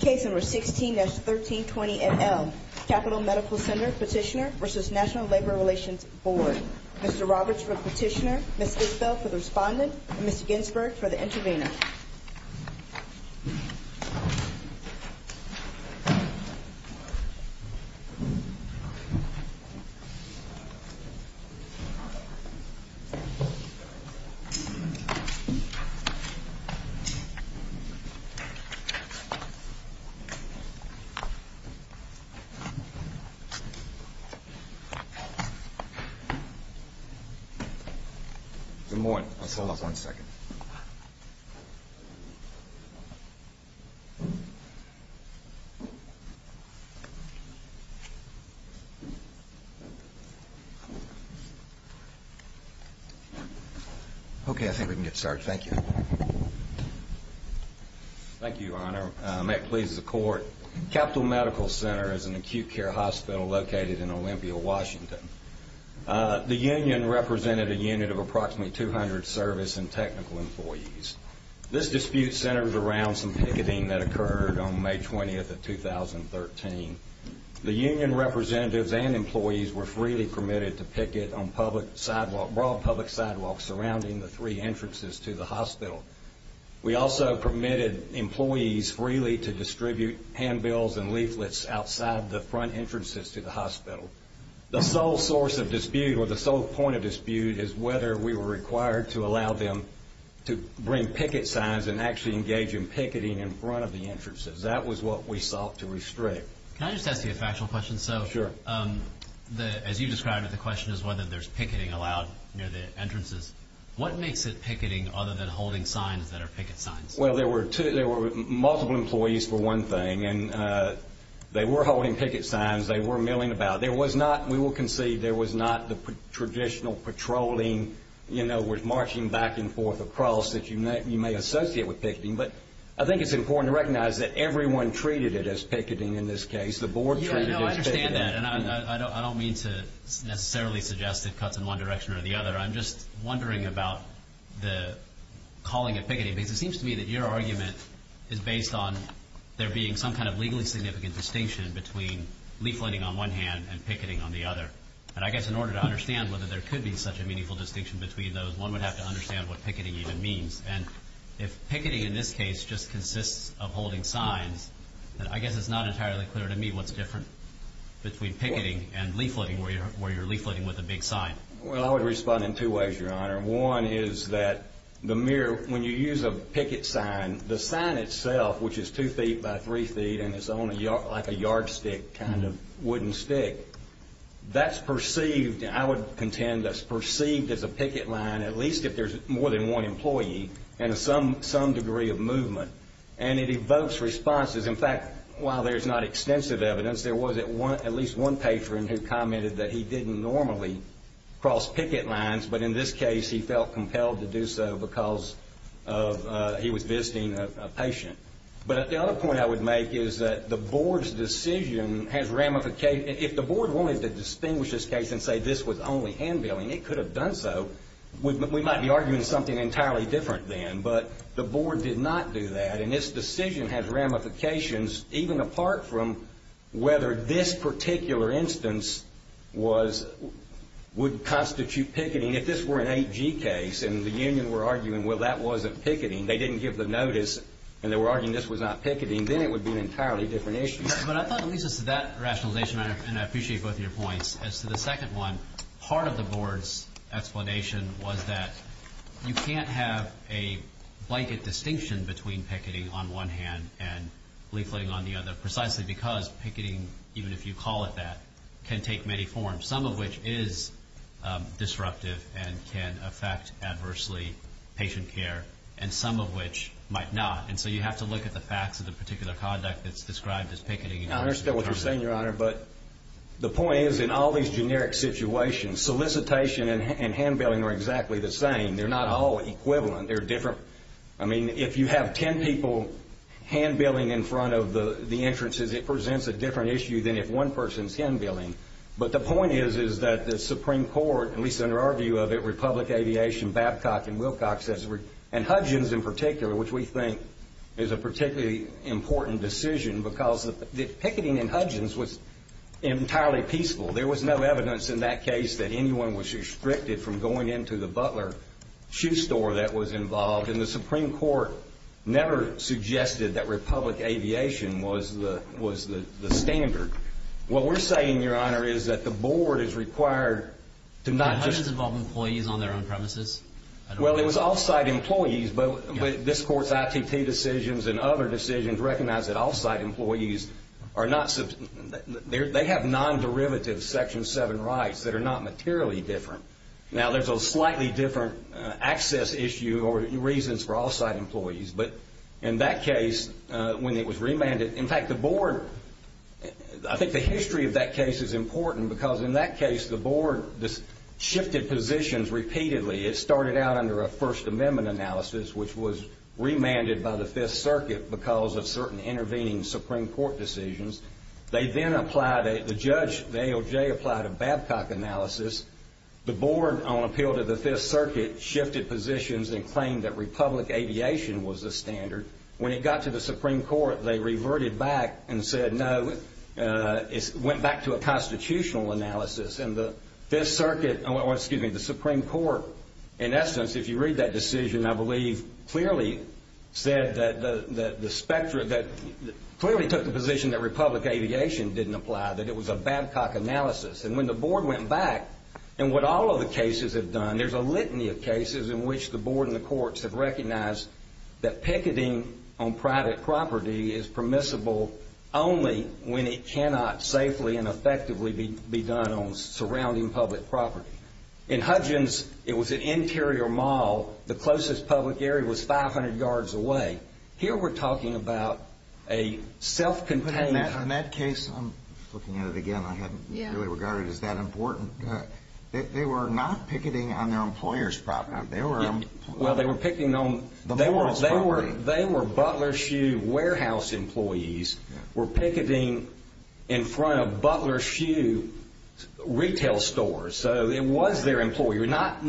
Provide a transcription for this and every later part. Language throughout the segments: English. Case No. 16-1320NL Capital Medical Center Petitioner v. National Labor Relations Board Mr. Roberts for the petitioner, Ms. Gisbel for the respondent, and Ms. Ginsberg for the intervener Good morning. Let's hold off one second. Okay, I think we can get started. Thank you. Thank you, Your Honor. May it please the Court. Capital Medical Center is an acute care hospital located in Olympia, Washington. The union represented a unit of approximately 200 service and technical employees. This dispute centers around some picketing that occurred on May 20th of 2013. The union representatives and employees were freely permitted to picket on broad public sidewalks surrounding the three entrances to the hospital. We also permitted employees freely to distribute handbills and leaflets outside the front entrances to the hospital. The sole source of dispute, or the sole point of dispute, is whether we were required to allow them to bring picket signs and actually engage in picketing in front of the entrances. That was what we sought to restrict. Can I just ask you a factual question? Sure. As you described it, the question is whether there's picketing allowed near the entrances. What makes it picketing other than holding signs that are picket signs? Well, there were multiple employees for one thing, and they were holding picket signs. They were milling about. There was not, we will concede there was not the traditional patrolling, you know, with marching back and forth across that you may associate with picketing. But I think it's important to recognize that everyone treated it as picketing in this case. The board treated it as picketing. I understand that, and I don't mean to necessarily suggest it cuts in one direction or the other. I'm just wondering about the calling it picketing, because it seems to me that your argument is based on there being some kind of And I guess in order to understand whether there could be such a meaningful distinction between those, one would have to understand what picketing even means. And if picketing in this case just consists of holding signs, then I guess it's not entirely clear to me what's different between picketing and leafletting, where you're leafletting with a big sign. Well, I would respond in two ways, Your Honor. One is that the mere, when you use a picket sign, the sign itself, which is two feet by three feet and it's like a yardstick kind of wooden stick, that's perceived, I would contend, that's perceived as a picket line, at least if there's more than one employee, and some degree of movement. And it evokes responses. In fact, while there's not extensive evidence, there was at least one patron who commented that he didn't normally cross picket lines, but in this case he felt compelled to do so because he was visiting a patient. But the other point I would make is that the Board's decision has ramifications. If the Board wanted to distinguish this case and say this was only hand-billing, it could have done so. We might be arguing something entirely different then, but the Board did not do that, and this decision has ramifications even apart from whether this particular instance would constitute picketing. If this were an 8G case and the union were arguing, well, that wasn't picketing, they didn't give the notice and they were arguing this was not picketing, then it would be an entirely different issue. But I thought it leads us to that rationalization, and I appreciate both of your points. As to the second one, part of the Board's explanation was that you can't have a blanket distinction between picketing on one hand and leafleting on the other, precisely because picketing, even if you call it that, can take many forms, some of which is disruptive and can affect adversely patient care, and some of which might not. And so you have to look at the facts of the particular conduct that's described as picketing. I understand what you're saying, Your Honor, but the point is in all these generic situations, solicitation and hand-billing are exactly the same. They're not all equivalent. I mean, if you have 10 people hand-billing in front of the entrances, it presents a different issue than if one person's hand-billing. But the point is that the Supreme Court, at least under our view of it, Republic Aviation, Babcock, and Wilcox, and Hudgins in particular, which we think is a particularly important decision because picketing in Hudgins was entirely peaceful. There was no evidence in that case that anyone was restricted from going into the Butler shoe store that was involved, and the Supreme Court never suggested that Republic Aviation was the standard. What we're saying, Your Honor, is that the Board is required to not just— But Hudgins involved employees on their own premises. Well, it was off-site employees, but this Court's ITT decisions and other decisions recognize that off-site employees are not—they have non-derivative Section 7 rights that are not materially different. Now, there's a slightly different access issue or reasons for off-site employees, but in that case, when it was remanded—in fact, the Board— I think the history of that case is important because in that case, the Board shifted positions repeatedly. It started out under a First Amendment analysis, which was remanded by the Fifth Circuit because of certain intervening Supreme Court decisions. They then applied—the judge, the AOJ, applied a Babcock analysis. The Board, on appeal to the Fifth Circuit, shifted positions and claimed that Republic Aviation was the standard. When it got to the Supreme Court, they reverted back and said no. It went back to a constitutional analysis, and the Fifth Circuit— or, excuse me, the Supreme Court, in essence, if you read that decision, I believe, clearly said that the spectra—clearly took the position that Republic Aviation didn't apply, that it was a Babcock analysis. And when the Board went back, in what all of the cases have done, there's a litany of cases in which the Board and the courts have recognized that picketing on private property is permissible only when it cannot safely and effectively be done on surrounding public property. In Hudgins, it was an interior mall. The closest public area was 500 yards away. Here we're talking about a self-contained— But in that case—I'm looking at it again. I hadn't really regarded it as that important. They were not picketing on their employer's property. They were— Well, they were picketing on— The board's property. They were Butler Shoe Warehouse employees were picketing in front of Butler Shoe retail stores. So it was their employer, not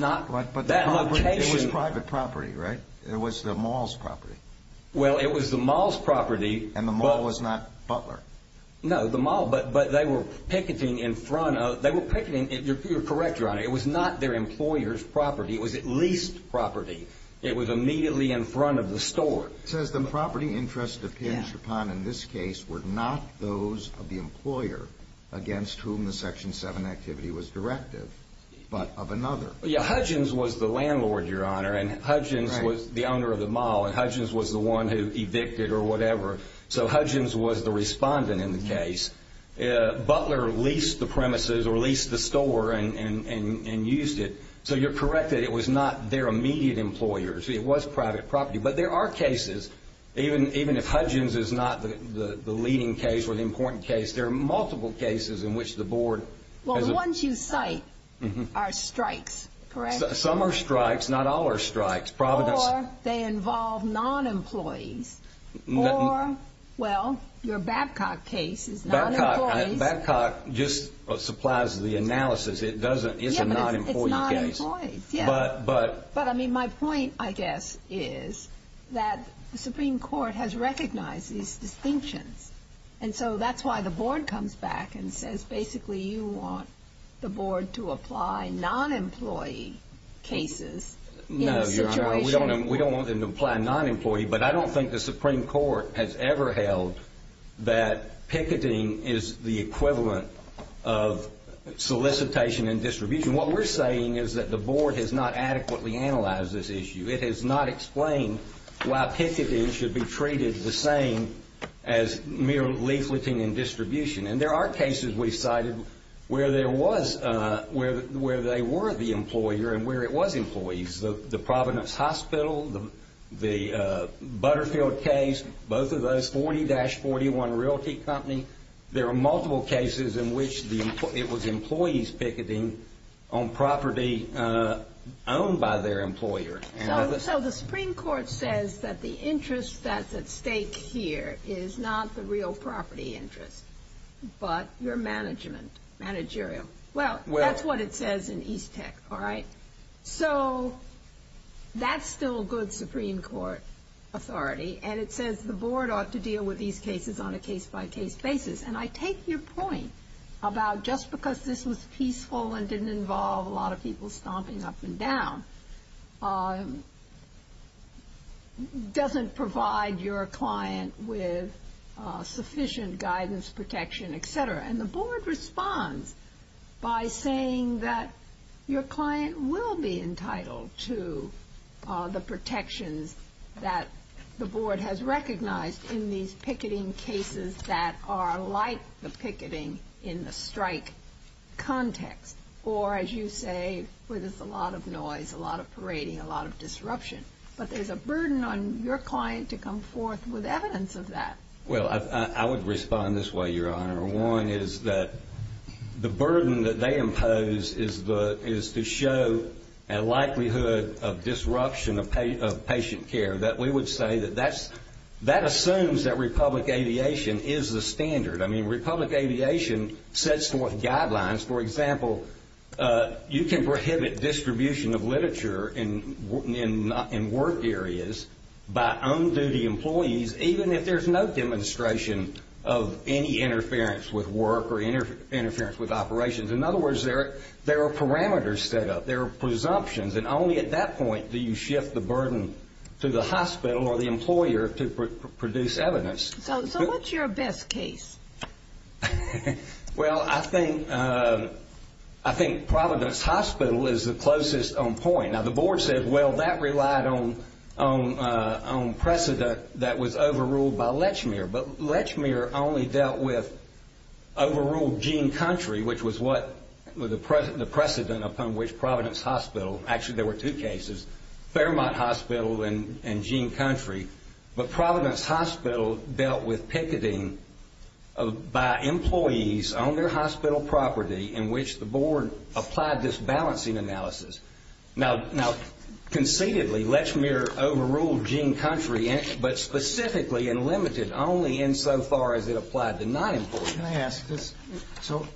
that location. It was private property, right? It was the mall's property. Well, it was the mall's property. And the mall was not Butler? No, the mall. But they were picketing in front of—they were picketing—you're correct, Your Honor. It was not their employer's property. It was at least property. It was immediately in front of the store. It says the property interests— Yeah. were not those of the employer against whom the Section 7 activity was directive, but of another. Yeah, Hudgens was the landlord, Your Honor. And Hudgens was the owner of the mall. And Hudgens was the one who evicted or whatever. So Hudgens was the respondent in the case. Butler leased the premises or leased the store and used it. So you're correct that it was not their immediate employer's. It was private property. But there are cases, even if Hudgens is not the leading case or the important case, there are multiple cases in which the board— Well, the ones you cite are strikes, correct? Some are strikes. Not all are strikes. Providence— Or they involve non-employees. Or, well, your Babcock case is non-employees. Babcock just supplies the analysis. It doesn't—it's a non-employee case. Yeah, but it's non-employees. But— —that the Supreme Court has recognized these distinctions. And so that's why the board comes back and says, basically, you want the board to apply non-employee cases in a situation— No, Your Honor, we don't want them to apply non-employee. But I don't think the Supreme Court has ever held that picketing is the equivalent of solicitation and distribution. What we're saying is that the board has not adequately analyzed this issue. It has not explained why picketing should be treated the same as mere leafleting and distribution. And there are cases we cited where there was—where they were the employer and where it was employees. The Providence Hospital, the Butterfield case, both of those, 40-41 Realty Company, there are multiple cases in which it was employees picketing on property owned by their employer. So the Supreme Court says that the interest that's at stake here is not the real property interest but your management, managerial. Well, that's what it says in East Tech, all right? So that's still good Supreme Court authority. And it says the board ought to deal with these cases on a case-by-case basis. And I take your point about just because this was peaceful and didn't involve a lot of people stomping up and down doesn't provide your client with sufficient guidance, protection, et cetera. And the board responds by saying that your client will be entitled to the protections that the board has recognized in these picketing cases that are like the picketing in the strike context. Or, as you say, where there's a lot of noise, a lot of parading, a lot of disruption. But there's a burden on your client to come forth with evidence of that. Well, I would respond this way, Your Honor. One is that the burden that they impose is to show a likelihood of disruption of patient care, that we would say that that assumes that Republic Aviation is the standard. I mean, Republic Aviation sets forth guidelines. For example, you can prohibit distribution of literature in work areas by on-duty employees even if there's no demonstration of any interference with work or interference with operations. In other words, there are parameters set up. There are presumptions. And only at that point do you shift the burden to the hospital or the employer to produce evidence. So what's your best case? Well, I think Providence Hospital is the closest on point. Now, the board said, well, that relied on precedent that was overruled by Lechmere. But Lechmere only dealt with overruled Gene Country, which was the precedent upon which Providence Hospital actually there were two cases, Fairmont Hospital and Gene Country. But Providence Hospital dealt with picketing by employees on their hospital property in which the board applied this balancing analysis. Now, conceitedly, Lechmere overruled Gene Country, but specifically and limited only insofar as it applied to non-employees. Can I ask this? So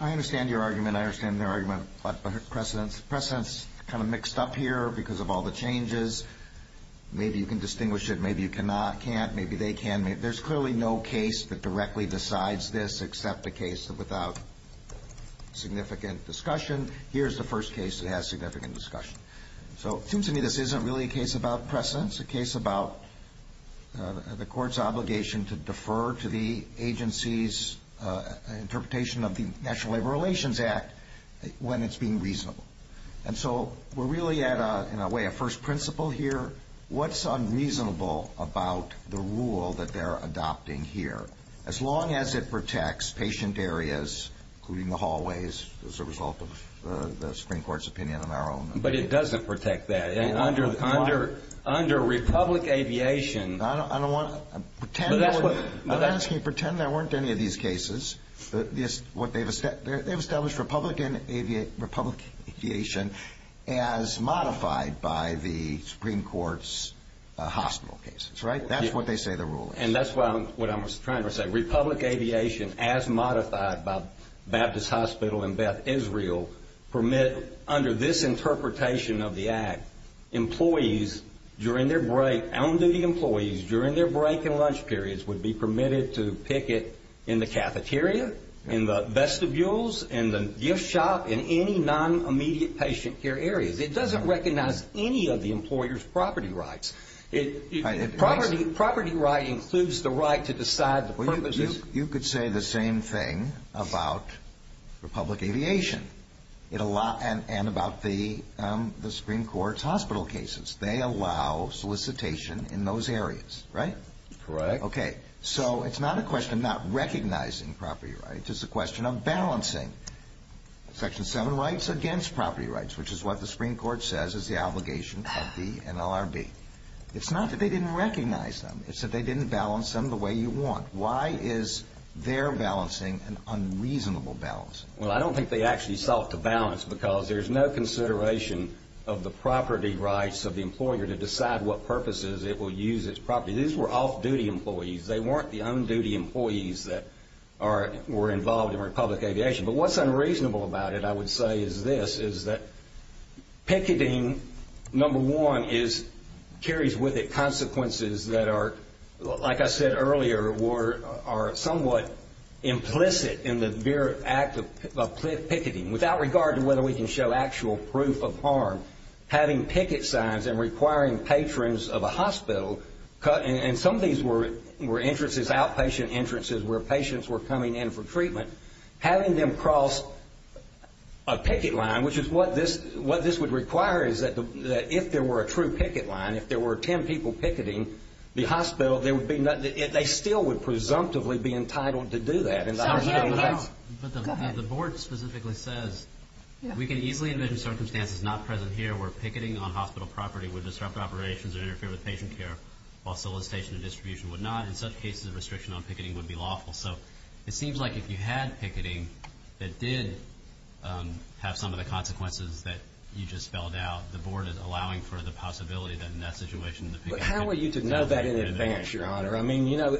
I understand your argument. I understand their argument about precedents. Precedents are kind of mixed up here because of all the changes. Maybe you can distinguish it. Maybe you cannot, can't. Maybe they can. There's clearly no case that directly decides this except a case without significant discussion. Here's the first case that has significant discussion. So it seems to me this isn't really a case about precedents. It's a case about the court's obligation to defer to the agency's interpretation of the National Labor Relations Act when it's being reasonable. And so we're really at, in a way, a first principle here. What's unreasonable about the rule that they're adopting here? As long as it protects patient areas, including the hallways, as a result of the Supreme Court's opinion on our own. But it doesn't protect that. Under Republic Aviation. I don't want to pretend. I'm asking you to pretend there weren't any of these cases. They've established Republic Aviation as modified by the Supreme Court's hospital cases, right? That's what they say the rule is. And that's what I was trying to say. Republic Aviation as modified by Baptist Hospital and Beth Israel permit, under this interpretation of the act, employees during their break, on-duty employees during their break and lunch periods, would be permitted to picket in the cafeteria, in the vestibules, in the gift shop, in any non-immediate patient care areas. It doesn't recognize any of the employer's property rights. Property right includes the right to decide the purposes. You could say the same thing about Republic Aviation and about the Supreme Court's hospital cases. They allow solicitation in those areas, right? Correct. Okay, so it's not a question of not recognizing property rights. It's a question of balancing Section 7 rights against property rights, which is what the Supreme Court says is the obligation of the NLRB. It's not that they didn't recognize them. It's that they didn't balance them the way you want. Why is their balancing an unreasonable balance? Well, I don't think they actually sought to balance because there's no consideration of the property rights of the employer to decide what purposes it will use its property. These were off-duty employees. They weren't the on-duty employees that were involved in Republic Aviation. But what's unreasonable about it, I would say, is this, is that picketing, number one, carries with it consequences that are, like I said earlier, are somewhat implicit in the act of picketing. Without regard to whether we can show actual proof of harm, having picket signs and requiring patrons of a hospital, and some of these were outpatient entrances where patients were coming in for treatment, having them cross a picket line, which is what this would require, is that if there were a true picket line, if there were 10 people picketing the hospital, they still would presumptively be entitled to do that. But the board specifically says we can easily envision circumstances not present here where picketing on hospital property would disrupt operations or interfere with patient care while solicitation or distribution would not. In such cases, a restriction on picketing would be lawful. So it seems like if you had picketing that did have some of the consequences that you just spelled out, the board is allowing for the possibility that in that situation the picketing would be permitted. How are you to know that in advance, Your Honor? I mean, you know,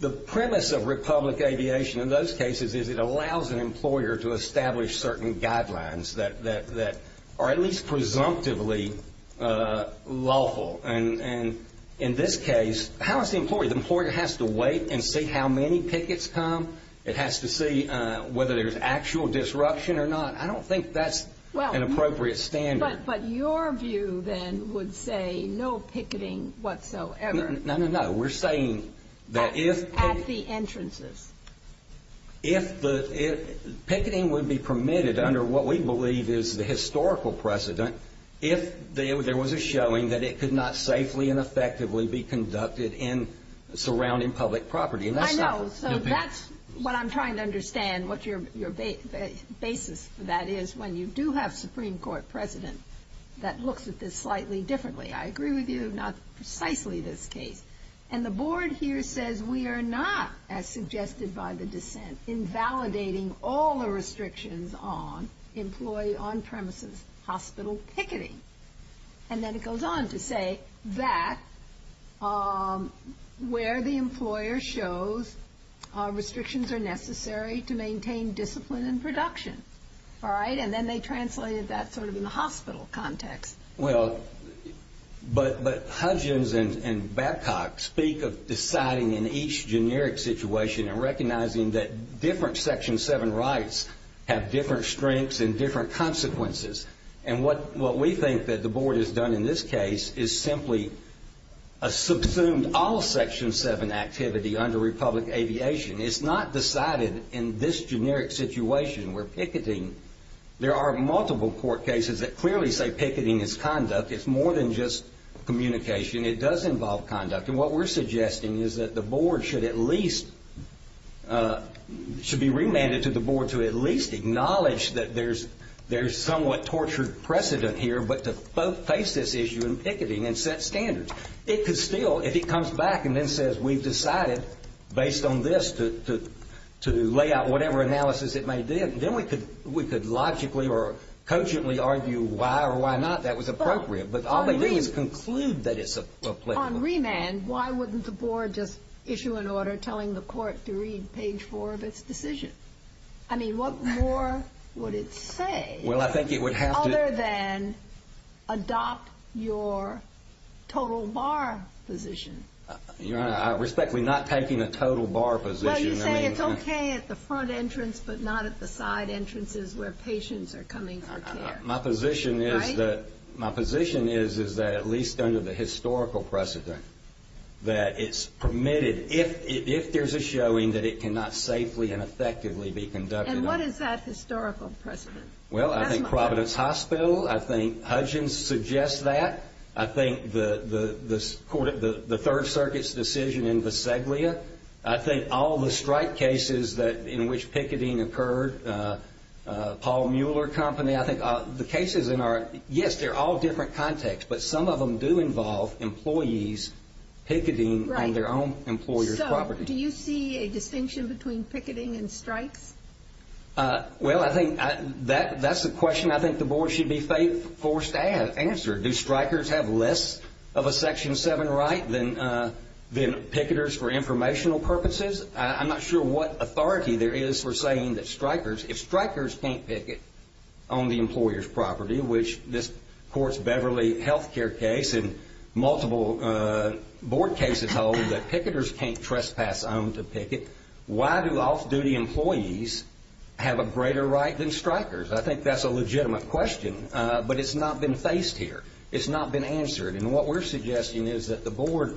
the premise of Republic Aviation in those cases is it allows an employer to establish certain guidelines that are at least presumptively lawful. And in this case, how is the employer? The employer has to wait and see how many pickets come. It has to see whether there's actual disruption or not. I don't think that's an appropriate standard. But your view then would say no picketing whatsoever. No, no, no. We're saying that if... At the entrances. If the picketing would be permitted under what we believe is the historical precedent, if there was a showing that it could not safely and effectively be conducted in surrounding public property. I know. So that's what I'm trying to understand what your basis for that is when you do have a Supreme Court president that looks at this slightly differently. I agree with you. Not precisely this case. And the board here says we are not, as suggested by the dissent, invalidating all the restrictions on employee on-premises hospital picketing. And then it goes on to say that where the employer shows restrictions are necessary to maintain discipline and production. All right? And then they translated that sort of in the hospital context. Well, but Hudgins and Babcock speak of deciding in each generic situation and recognizing that different Section 7 rights have different strengths and different consequences. And what we think that the board has done in this case is simply a subsumed all Section 7 activity under Republic Aviation. It's not decided in this generic situation where picketing... There are multiple court cases that clearly say picketing is conduct. It's more than just communication. It does involve conduct. And what we're suggesting is that the board should at least be remanded to the board to at least acknowledge that there's somewhat tortured precedent here, but to both face this issue in picketing and set standards. It could still, if it comes back and then says we've decided based on this to lay out whatever analysis it may give, then we could logically or cogently argue why or why not that was appropriate. But all they do is conclude that it's applicable. On remand, why wouldn't the board just issue an order telling the court to read page 4 of its decision? I mean, what more would it say? Well, I think it would have to... Other than adopt your total bar position. Your Honor, I respectfully am not taking a total bar position. Well, you say it's okay at the front entrance, but not at the side entrances where patients are coming for care. My position is that at least under the historical precedent that it's permitted, if there's a showing that it cannot safely and effectively be conducted. And what is that historical precedent? Well, I think Providence Hospital, I think Hudgins suggests that. I think the Third Circuit's decision in Visaglia. I think all the strike cases in which picketing occurred. Paul Mueller Company, I think the cases in our... Yes, they're all different contexts, but some of them do involve employees picketing on their own employer's property. So, do you see a distinction between picketing and strikes? Well, I think that's a question I think the board should be forced to answer. Do strikers have less of a Section 7 right than picketers for informational purposes? I'm not sure what authority there is for saying that strikers... If strikers can't picket on the employer's property, which this Court's Beverly Health Care case and multiple board cases hold that picketers can't trespass on to picket, why do off-duty employees have a greater right than strikers? I think that's a legitimate question, but it's not been faced here. It's not been answered. And what we're suggesting is that the board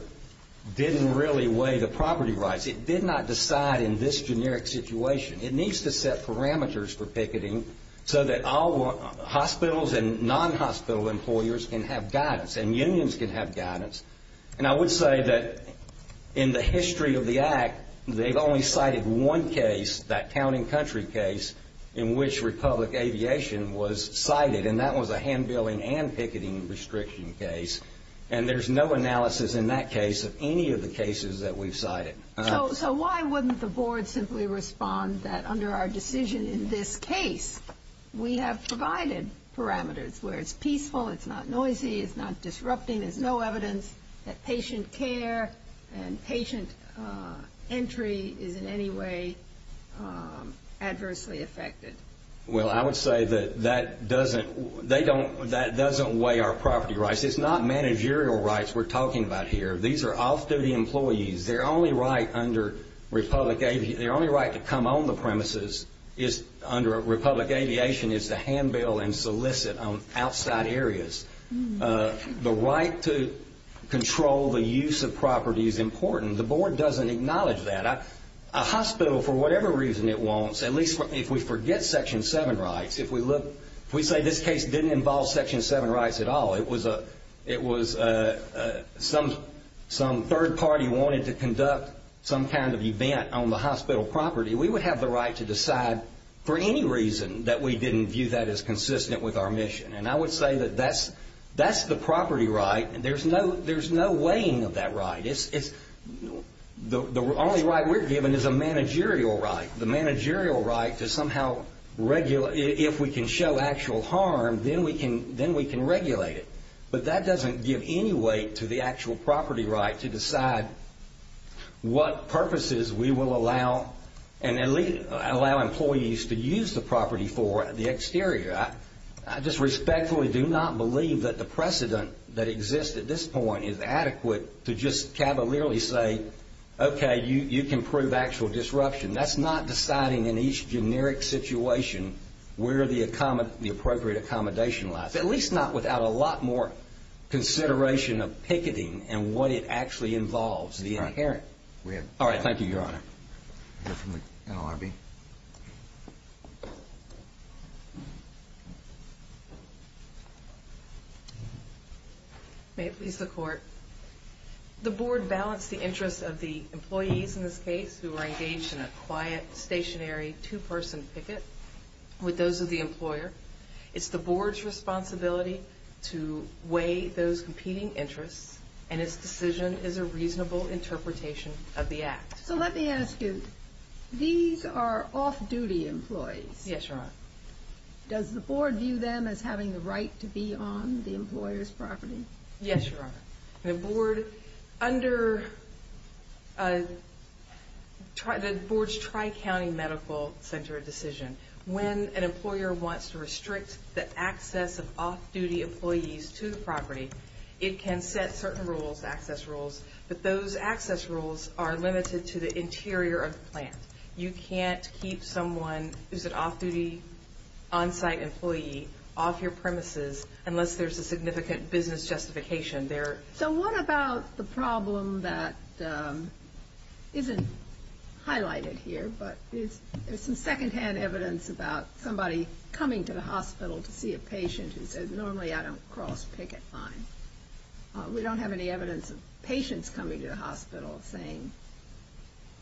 didn't really weigh the property rights. It did not decide in this generic situation. It needs to set parameters for picketing so that hospitals and non-hospital employers can have guidance and unions can have guidance. And I would say that in the history of the Act, they've only cited one case, that Town and Country case, in which Republic Aviation was cited, and that was a hand-billing and picketing restriction case. And there's no analysis in that case of any of the cases that we've cited. So why wouldn't the board simply respond that under our decision in this case, we have provided parameters where it's peaceful, it's not noisy, it's not disrupting, and there's no evidence that patient care and patient entry is in any way adversely affected? Well, I would say that that doesn't weigh our property rights. It's not managerial rights we're talking about here. These are off-duty employees. Their only right to come on the premises under Republic Aviation is to hand-bill and solicit on outside areas. The right to control the use of property is important. The board doesn't acknowledge that. A hospital, for whatever reason it wants, at least if we forget Section 7 rights, if we say this case didn't involve Section 7 rights at all, it was some third party wanted to conduct some kind of event on the hospital property, we would have the right to decide, for any reason, that we didn't view that as consistent with our mission. And I would say that that's the property right. There's no weighing of that right. The only right we're given is a managerial right, the managerial right to somehow, if we can show actual harm, then we can regulate it. But that doesn't give any weight to the actual property right to decide what purposes we will allow employees to use the property for at the exterior. I just respectfully do not believe that the precedent that exists at this point is adequate to just cavalierly say, okay, you can prove actual disruption. That's not deciding in each generic situation where the appropriate accommodation lies, at least not without a lot more consideration of picketing and what it actually involves, the inherent. All right. Thank you, Your Honor. We'll hear from the NLRB. May it please the Court. The Board balanced the interests of the employees in this case who were engaged in a quiet, stationary, two-person picket with those of the employer. It's the Board's responsibility to weigh those competing interests, and its decision is a reasonable interpretation of the Act. So let me ask you, these are off-duty employees. Yes, Your Honor. Does the Board view them as having the right to be on the employer's property? Yes, Your Honor. The Board, under the Board's Tri-County Medical Center decision, when an employer wants to restrict the access of off-duty employees to the property, it can set certain rules, access rules, but those access rules are limited to the interior of the plant. You can't keep someone who's an off-duty, on-site employee off your premises unless there's a significant business justification there. So what about the problem that isn't highlighted here, but there's some second-hand evidence about somebody coming to the hospital to see a patient who says, normally I don't cross picket lines. We don't have any evidence of patients coming to the hospital saying,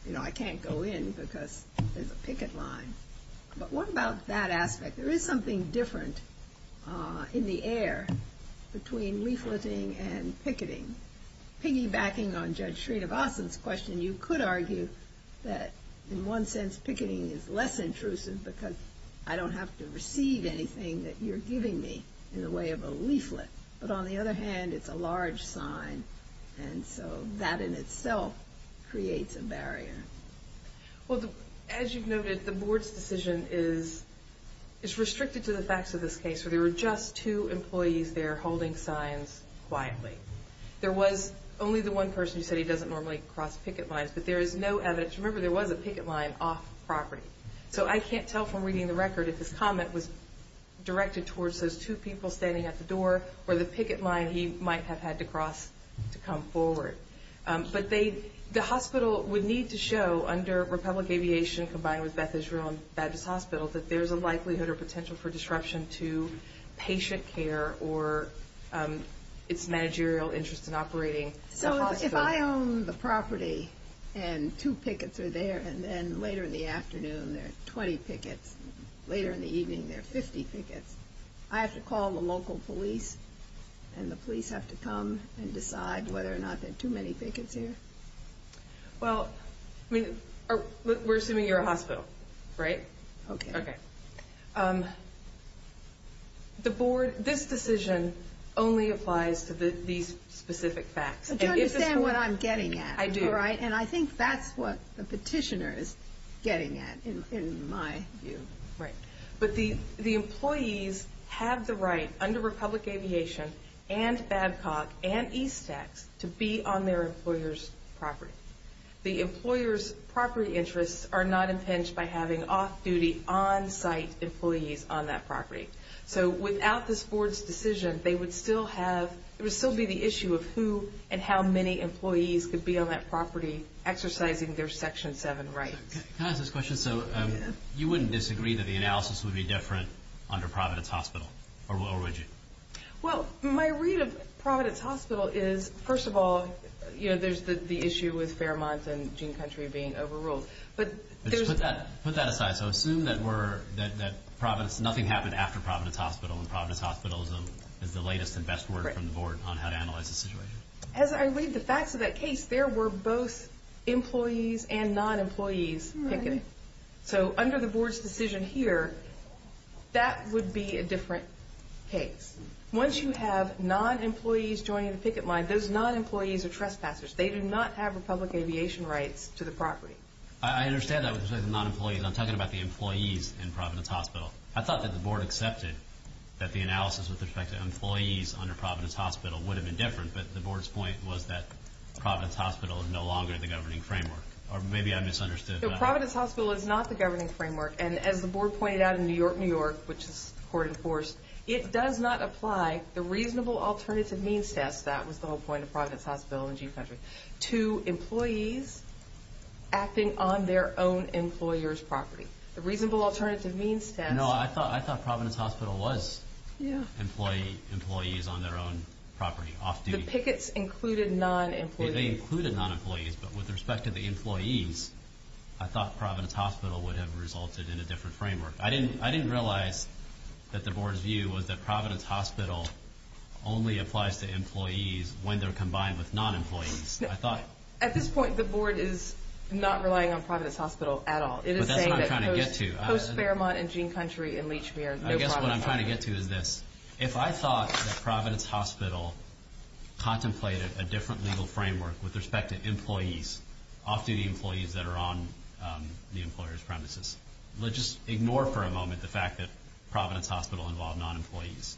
you know, I can't go in because there's a picket line. But what about that aspect? There is something different in the air between leafleting and picketing. Piggybacking on Judge Srinivasan's question, you could argue that in one sense picketing is less intrusive because I don't have to receive anything that you're giving me in the way of a leaflet. But on the other hand, it's a large sign, and so that in itself creates a barrier. Well, as you've noted, the Board's decision is restricted to the facts of this case, where there were just two employees there holding signs quietly. There was only the one person who said he doesn't normally cross picket lines, but there is no evidence. Remember, there was a picket line off-property. So I can't tell from reading the record if his comment was directed towards those two people standing at the door or the picket line he might have had to cross to come forward. But the hospital would need to show under Republic Aviation combined with Beth Israel and Baptist Hospital that there's a likelihood or potential for disruption to patient care or its managerial interest in operating the hospital. So if I own the property and two pickets are there, and then later in the afternoon there are 20 pickets, later in the evening there are 50 pickets, I have to call the local police, and the police have to come and decide whether or not there are too many pickets here? Well, we're assuming you're a hospital, right? Okay. Okay. The Board, this decision only applies to these specific facts. Do you understand what I'm getting at? I do. You're right, and I think that's what the petitioner is getting at in my view. Right. But the employees have the right under Republic Aviation and Babcock and Eastex to be on their employer's property. The employer's property interests are not impinged by having off-duty, on-site employees on that property. So without this Board's decision, there would still be the issue of who and how many employees could be on that property exercising their Section 7 rights. Can I ask this question? So you wouldn't disagree that the analysis would be different under Providence Hospital, or would you? Well, my read of Providence Hospital is, first of all, there's the issue with Fairmont and Gene Country being overruled. Put that aside. So assume that nothing happened after Providence Hospital and Providence Hospitalism is the latest and best word from the Board on how to analyze the situation. As I read the facts of that case, there were both employees and non-employees picketing. So under the Board's decision here, that would be a different case. Once you have non-employees joining the picket line, those non-employees are trespassers. They do not have Republic Aviation rights to the property. I understand that with respect to non-employees. I'm talking about the employees in Providence Hospital. I thought that the Board accepted that the analysis with respect to employees under Providence Hospital would have been different, but the Board's point was that Providence Hospital is no longer the governing framework. Or maybe I misunderstood. No, Providence Hospital is not the governing framework. And as the Board pointed out in New York, New York, which is court-enforced, it does not apply the reasonable alternative means test, that was the whole point of Providence Hospital and Gene Country, to employees acting on their own employer's property. The reasonable alternative means test. No, I thought Providence Hospital was employees on their own property. The pickets included non-employees. They included non-employees, but with respect to the employees, I thought Providence Hospital would have resulted in a different framework. I didn't realize that the Board's view was that Providence Hospital only applies to employees when they're combined with non-employees. At this point, the Board is not relying on Providence Hospital at all. But that's what I'm trying to get to. Post-Fairmont and Gene Country and Lechmere, no Providence Hospital. I guess what I'm trying to get to is this. If I thought that Providence Hospital contemplated a different legal framework with respect to employees, often the employees that are on the employer's premises, let's just ignore for a moment the fact that Providence Hospital involved non-employees.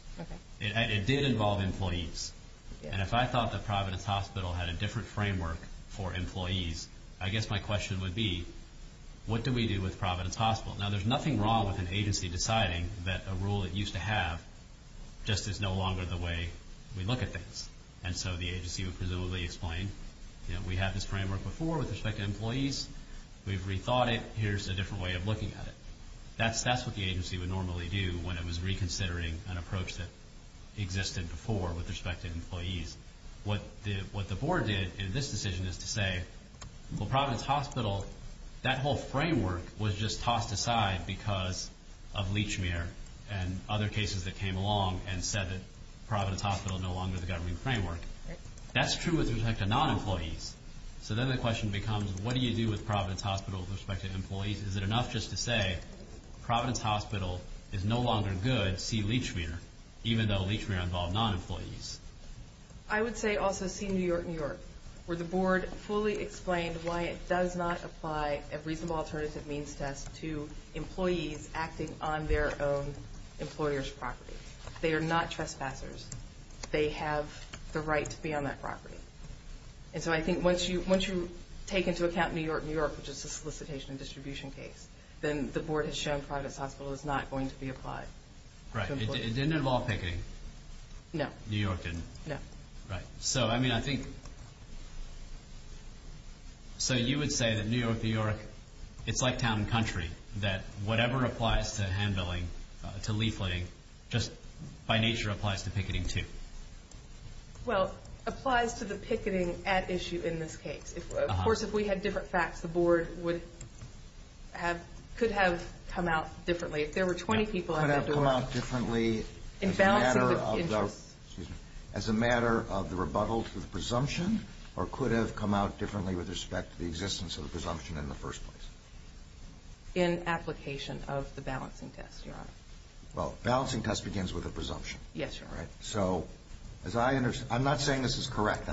It did involve employees. And if I thought that Providence Hospital had a different framework for employees, I guess my question would be, what do we do with Providence Hospital? Now, there's nothing wrong with an agency deciding that a rule it used to have just is no longer the way we look at things. And so the agency would presumably explain, you know, we had this framework before with respect to employees. We've rethought it. Here's a different way of looking at it. That's what the agency would normally do when it was reconsidering an approach that existed before with respect to employees. What the board did in this decision is to say, well, Providence Hospital, that whole framework was just tossed aside because of Lechmere and other cases that came along and said that Providence Hospital is no longer the governing framework. That's true with respect to non-employees. So then the question becomes, what do you do with Providence Hospital with respect to employees? Is it enough just to say, Providence Hospital is no longer good, see Lechmere, even though Lechmere involved non-employees? I would say also see New York, New York, where the board fully explained why it does not apply a reasonable alternative means test to employees acting on their own employer's property. They are not trespassers. They have the right to be on that property. And so I think once you take into account New York, New York, which is the solicitation and distribution case, then the board has shown Providence Hospital is not going to be applied. Right. It didn't involve picketing. No. New York didn't. No. Right. So, I mean, I think, so you would say that New York, New York, it's like town and country, that whatever applies to hand-billing, to leafletting, just by nature applies to picketing too. Well, applies to the picketing at issue in this case. Of course, if we had different facts, the board could have come out differently. If there were 20 people at that door. Could have come out differently as a matter of the rebuttal to the presumption or could have come out differently with respect to the existence of the presumption in the first place? In application of the balancing test, Your Honor. Well, balancing test begins with a presumption. Yes, Your Honor. So, as I understand, I'm not saying this is correct.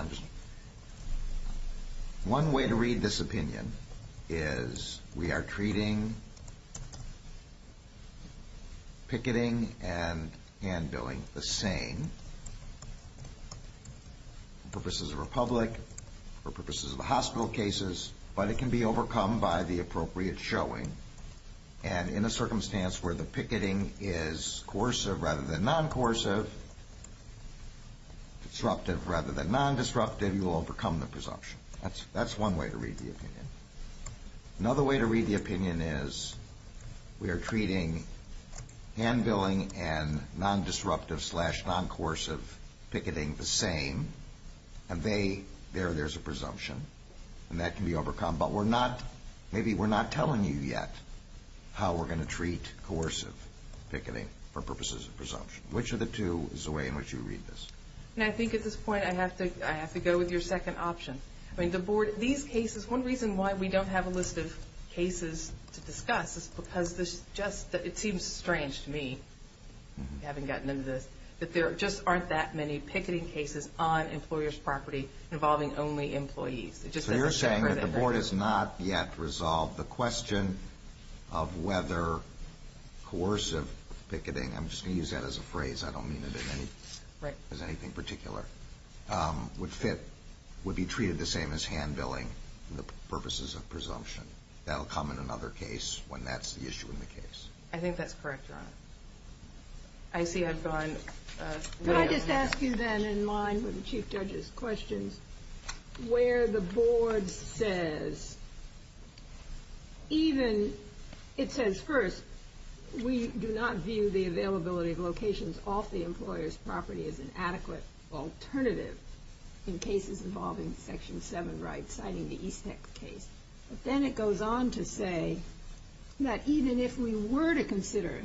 One way to read this opinion is we are treating picketing and hand-billing the same for purposes of a public, for purposes of hospital cases, but it can be overcome by the appropriate showing. And in a circumstance where the picketing is coercive rather than non-coercive, disruptive rather than non-disruptive, you will overcome the presumption. That's one way to read the opinion. Another way to read the opinion is we are treating hand-billing and non-disruptive slash non-coercive picketing the same, and there, there's a presumption, and that can be overcome, but we're not, maybe we're not telling you yet how we're going to treat coercive picketing for purposes of presumption. Which of the two is the way in which you read this? And I think at this point I have to go with your second option. I mean, the Board, these cases, one reason why we don't have a list of cases to discuss is because this just, it seems strange to me, having gotten into this, that there just aren't that many picketing cases on employer's property involving only employees. So you're saying that the Board has not yet resolved the question of whether coercive picketing, I'm just going to use that as a phrase, I don't mean it as anything particular, would fit, would be treated the same as hand-billing for purposes of presumption. That will come in another case when that's the issue in the case. I think that's correct, Your Honor. I see I've gone way over my head. Could I just ask you then, in line with the Chief Judge's questions, where the Board says, even, it says first, we do not view the availability of locations off the employer's property as an adequate alternative in cases involving Section 7 rights, citing the Eastex case. But then it goes on to say that even if we were to consider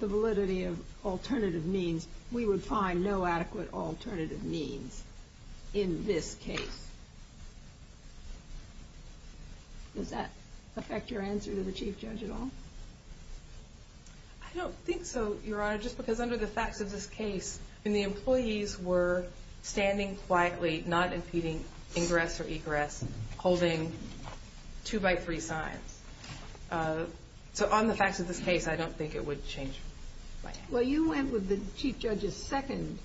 the validity of alternative means, we would find no adequate alternative means in this case. Does that affect your answer to the Chief Judge at all? I don't think so, Your Honor, just because under the facts of this case, when the employees were standing quietly, not impeding ingress or egress, holding two-by-three signs. So on the facts of this case, I don't think it would change my answer. Well, you went with the Chief Judge's second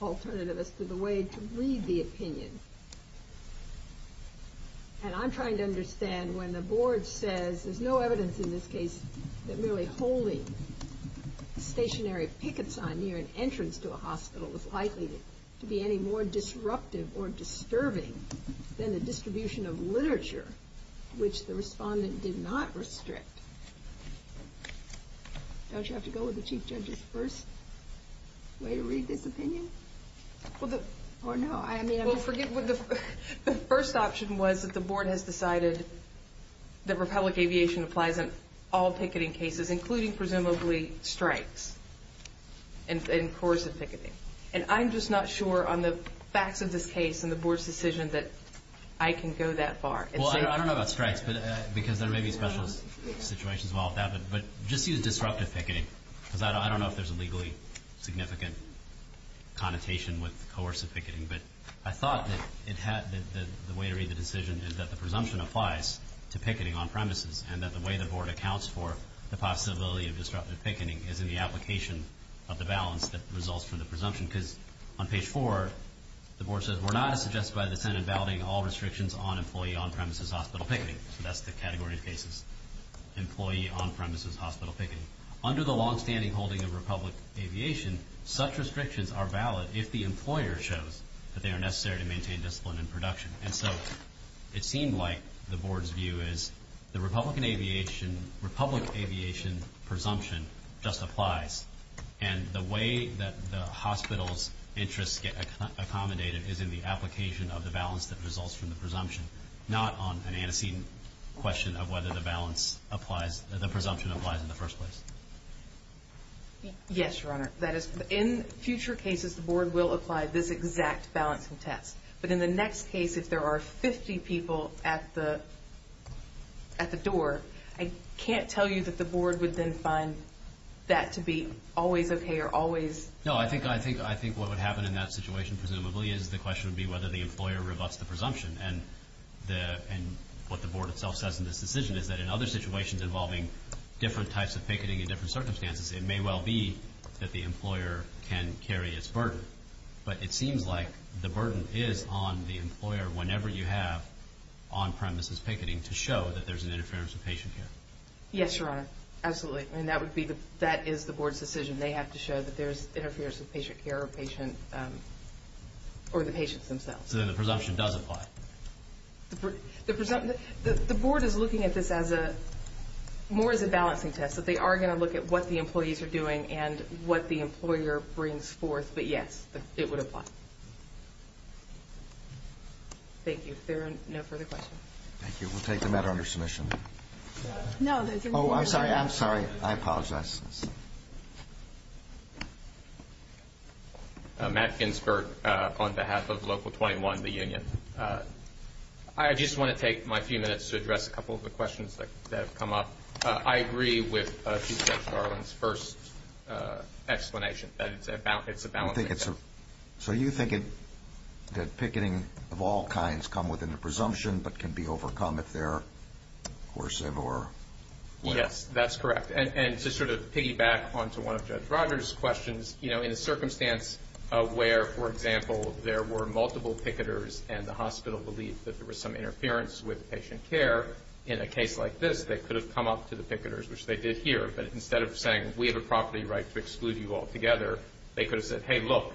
alternative as to the way to read the opinion. And I'm trying to understand when the Board says there's no evidence in this case that merely holding stationary picket signs near an entrance to a hospital is likely to be any more disruptive or disturbing than the distribution of literature, which the respondent did not restrict. Don't you have to go with the Chief Judge's first way to read this opinion? Well, the first option was that the Board has decided that Republic Aviation applies in all picketing cases, including presumably strikes and coercive picketing. And I'm just not sure on the facts of this case and the Board's decision that I can go that far. Well, I don't know about strikes, because there may be special situations involved with that. But just use disruptive picketing, because I don't know if there's a legally significant connotation with coercive picketing. But I thought that the way to read the decision is that the presumption applies to picketing on premises and that the way the Board accounts for the possibility of disruptive picketing is in the application of the balance that results from the presumption. Because on page 4, the Board says, We're not as suggested by the Senate in balloting all restrictions on employee on-premises hospital picketing. So that's the category of cases, employee on-premises hospital picketing. Under the longstanding holding of Republic Aviation, such restrictions are valid if the employer shows that they are necessary to maintain discipline in production. And so it seemed like the Board's view is the Republic Aviation presumption just applies. And the way that the hospital's interests get accommodated is in the application of the balance that results from the presumption, not on an antecedent question of whether the presumption applies in the first place. Yes, Your Honor. In future cases, the Board will apply this exact balance and test. But in the next case, if there are 50 people at the door, I can't tell you that the Board would then find that to be always okay or always... No, I think what would happen in that situation, presumably, is the question would be whether the employer rebuts the presumption. And what the Board itself says in this decision is that in other situations involving different types of picketing in different circumstances, it may well be that the employer can carry its burden. But it seems like the burden is on the employer whenever you have on-premises picketing to show that there's an interference with patient care. Yes, Your Honor. Absolutely. And that is the Board's decision. They have to show that there's interference with patient care or the patients themselves. So then the presumption does apply. The Board is looking at this more as a balancing test, that they are going to look at what the employees are doing and what the employer brings forth. But yes, it would apply. Thank you. If there are no further questions. Thank you. We'll take the matter under submission. Oh, I'm sorry. I'm sorry. I apologize. Matt Ginsberg on behalf of Local 21, the union. I just want to take my few minutes to address a couple of the questions that have come up. I agree with Chief Judge Garland's first explanation that it's a balancing test. So you think that picketing of all kinds come within the presumption but can be overcome if they're coercive or what? Yes, that's correct. And to sort of piggyback onto one of Judge Rogers' questions, in a circumstance where, for example, there were multiple picketers and the hospital believed that there was some interference with patient care, in a case like this, they could have come up to the picketers, which they did here. But instead of saying, we have a property right to exclude you altogether, they could have said, hey, look,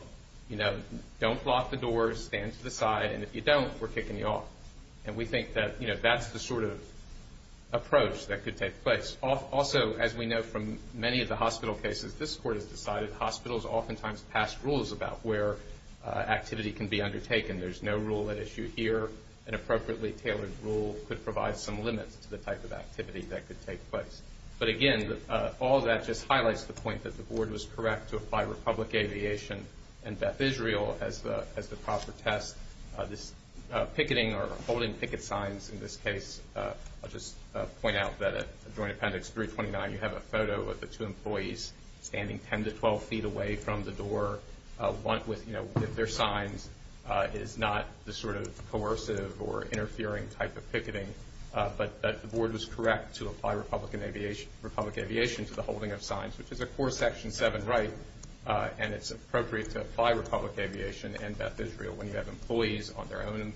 don't block the doors, stand to the side, and if you don't, we're kicking you off. And we think that that's the sort of approach that could take place. Also, as we know from many of the hospital cases, this Court has decided hospitals oftentimes pass rules about where activity can be undertaken. There's no rule at issue here. An appropriately tailored rule could provide some limits to the type of activity that could take place. But, again, all that just highlights the point that the Board was correct to apply Republic Aviation and Beth Israel as the proper test. This picketing or holding picket signs in this case, I'll just point out that at Joint Appendix 329, you have a photo of the two employees standing 10 to 12 feet away from the door with their signs. It is not the sort of coercive or interfering type of picketing, but that the Board was correct to apply Republic Aviation to the holding of signs, which is a core Section 7 right, and it's appropriate to apply Republic Aviation and Beth Israel when you have employees on their own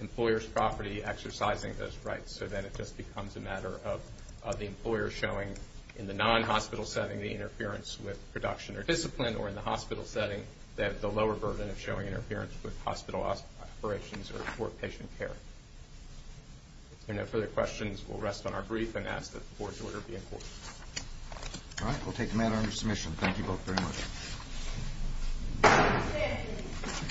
employer's property exercising those rights. So then it just becomes a matter of the employer showing, in the non-hospital setting, the interference with production or discipline, or in the hospital setting, that the lower burden of showing interference with hospital operations or patient care. If there are no further questions, we'll rest on our brief and ask that the Board's order be in court. All right, we'll take the matter under submission. Thank you both very much.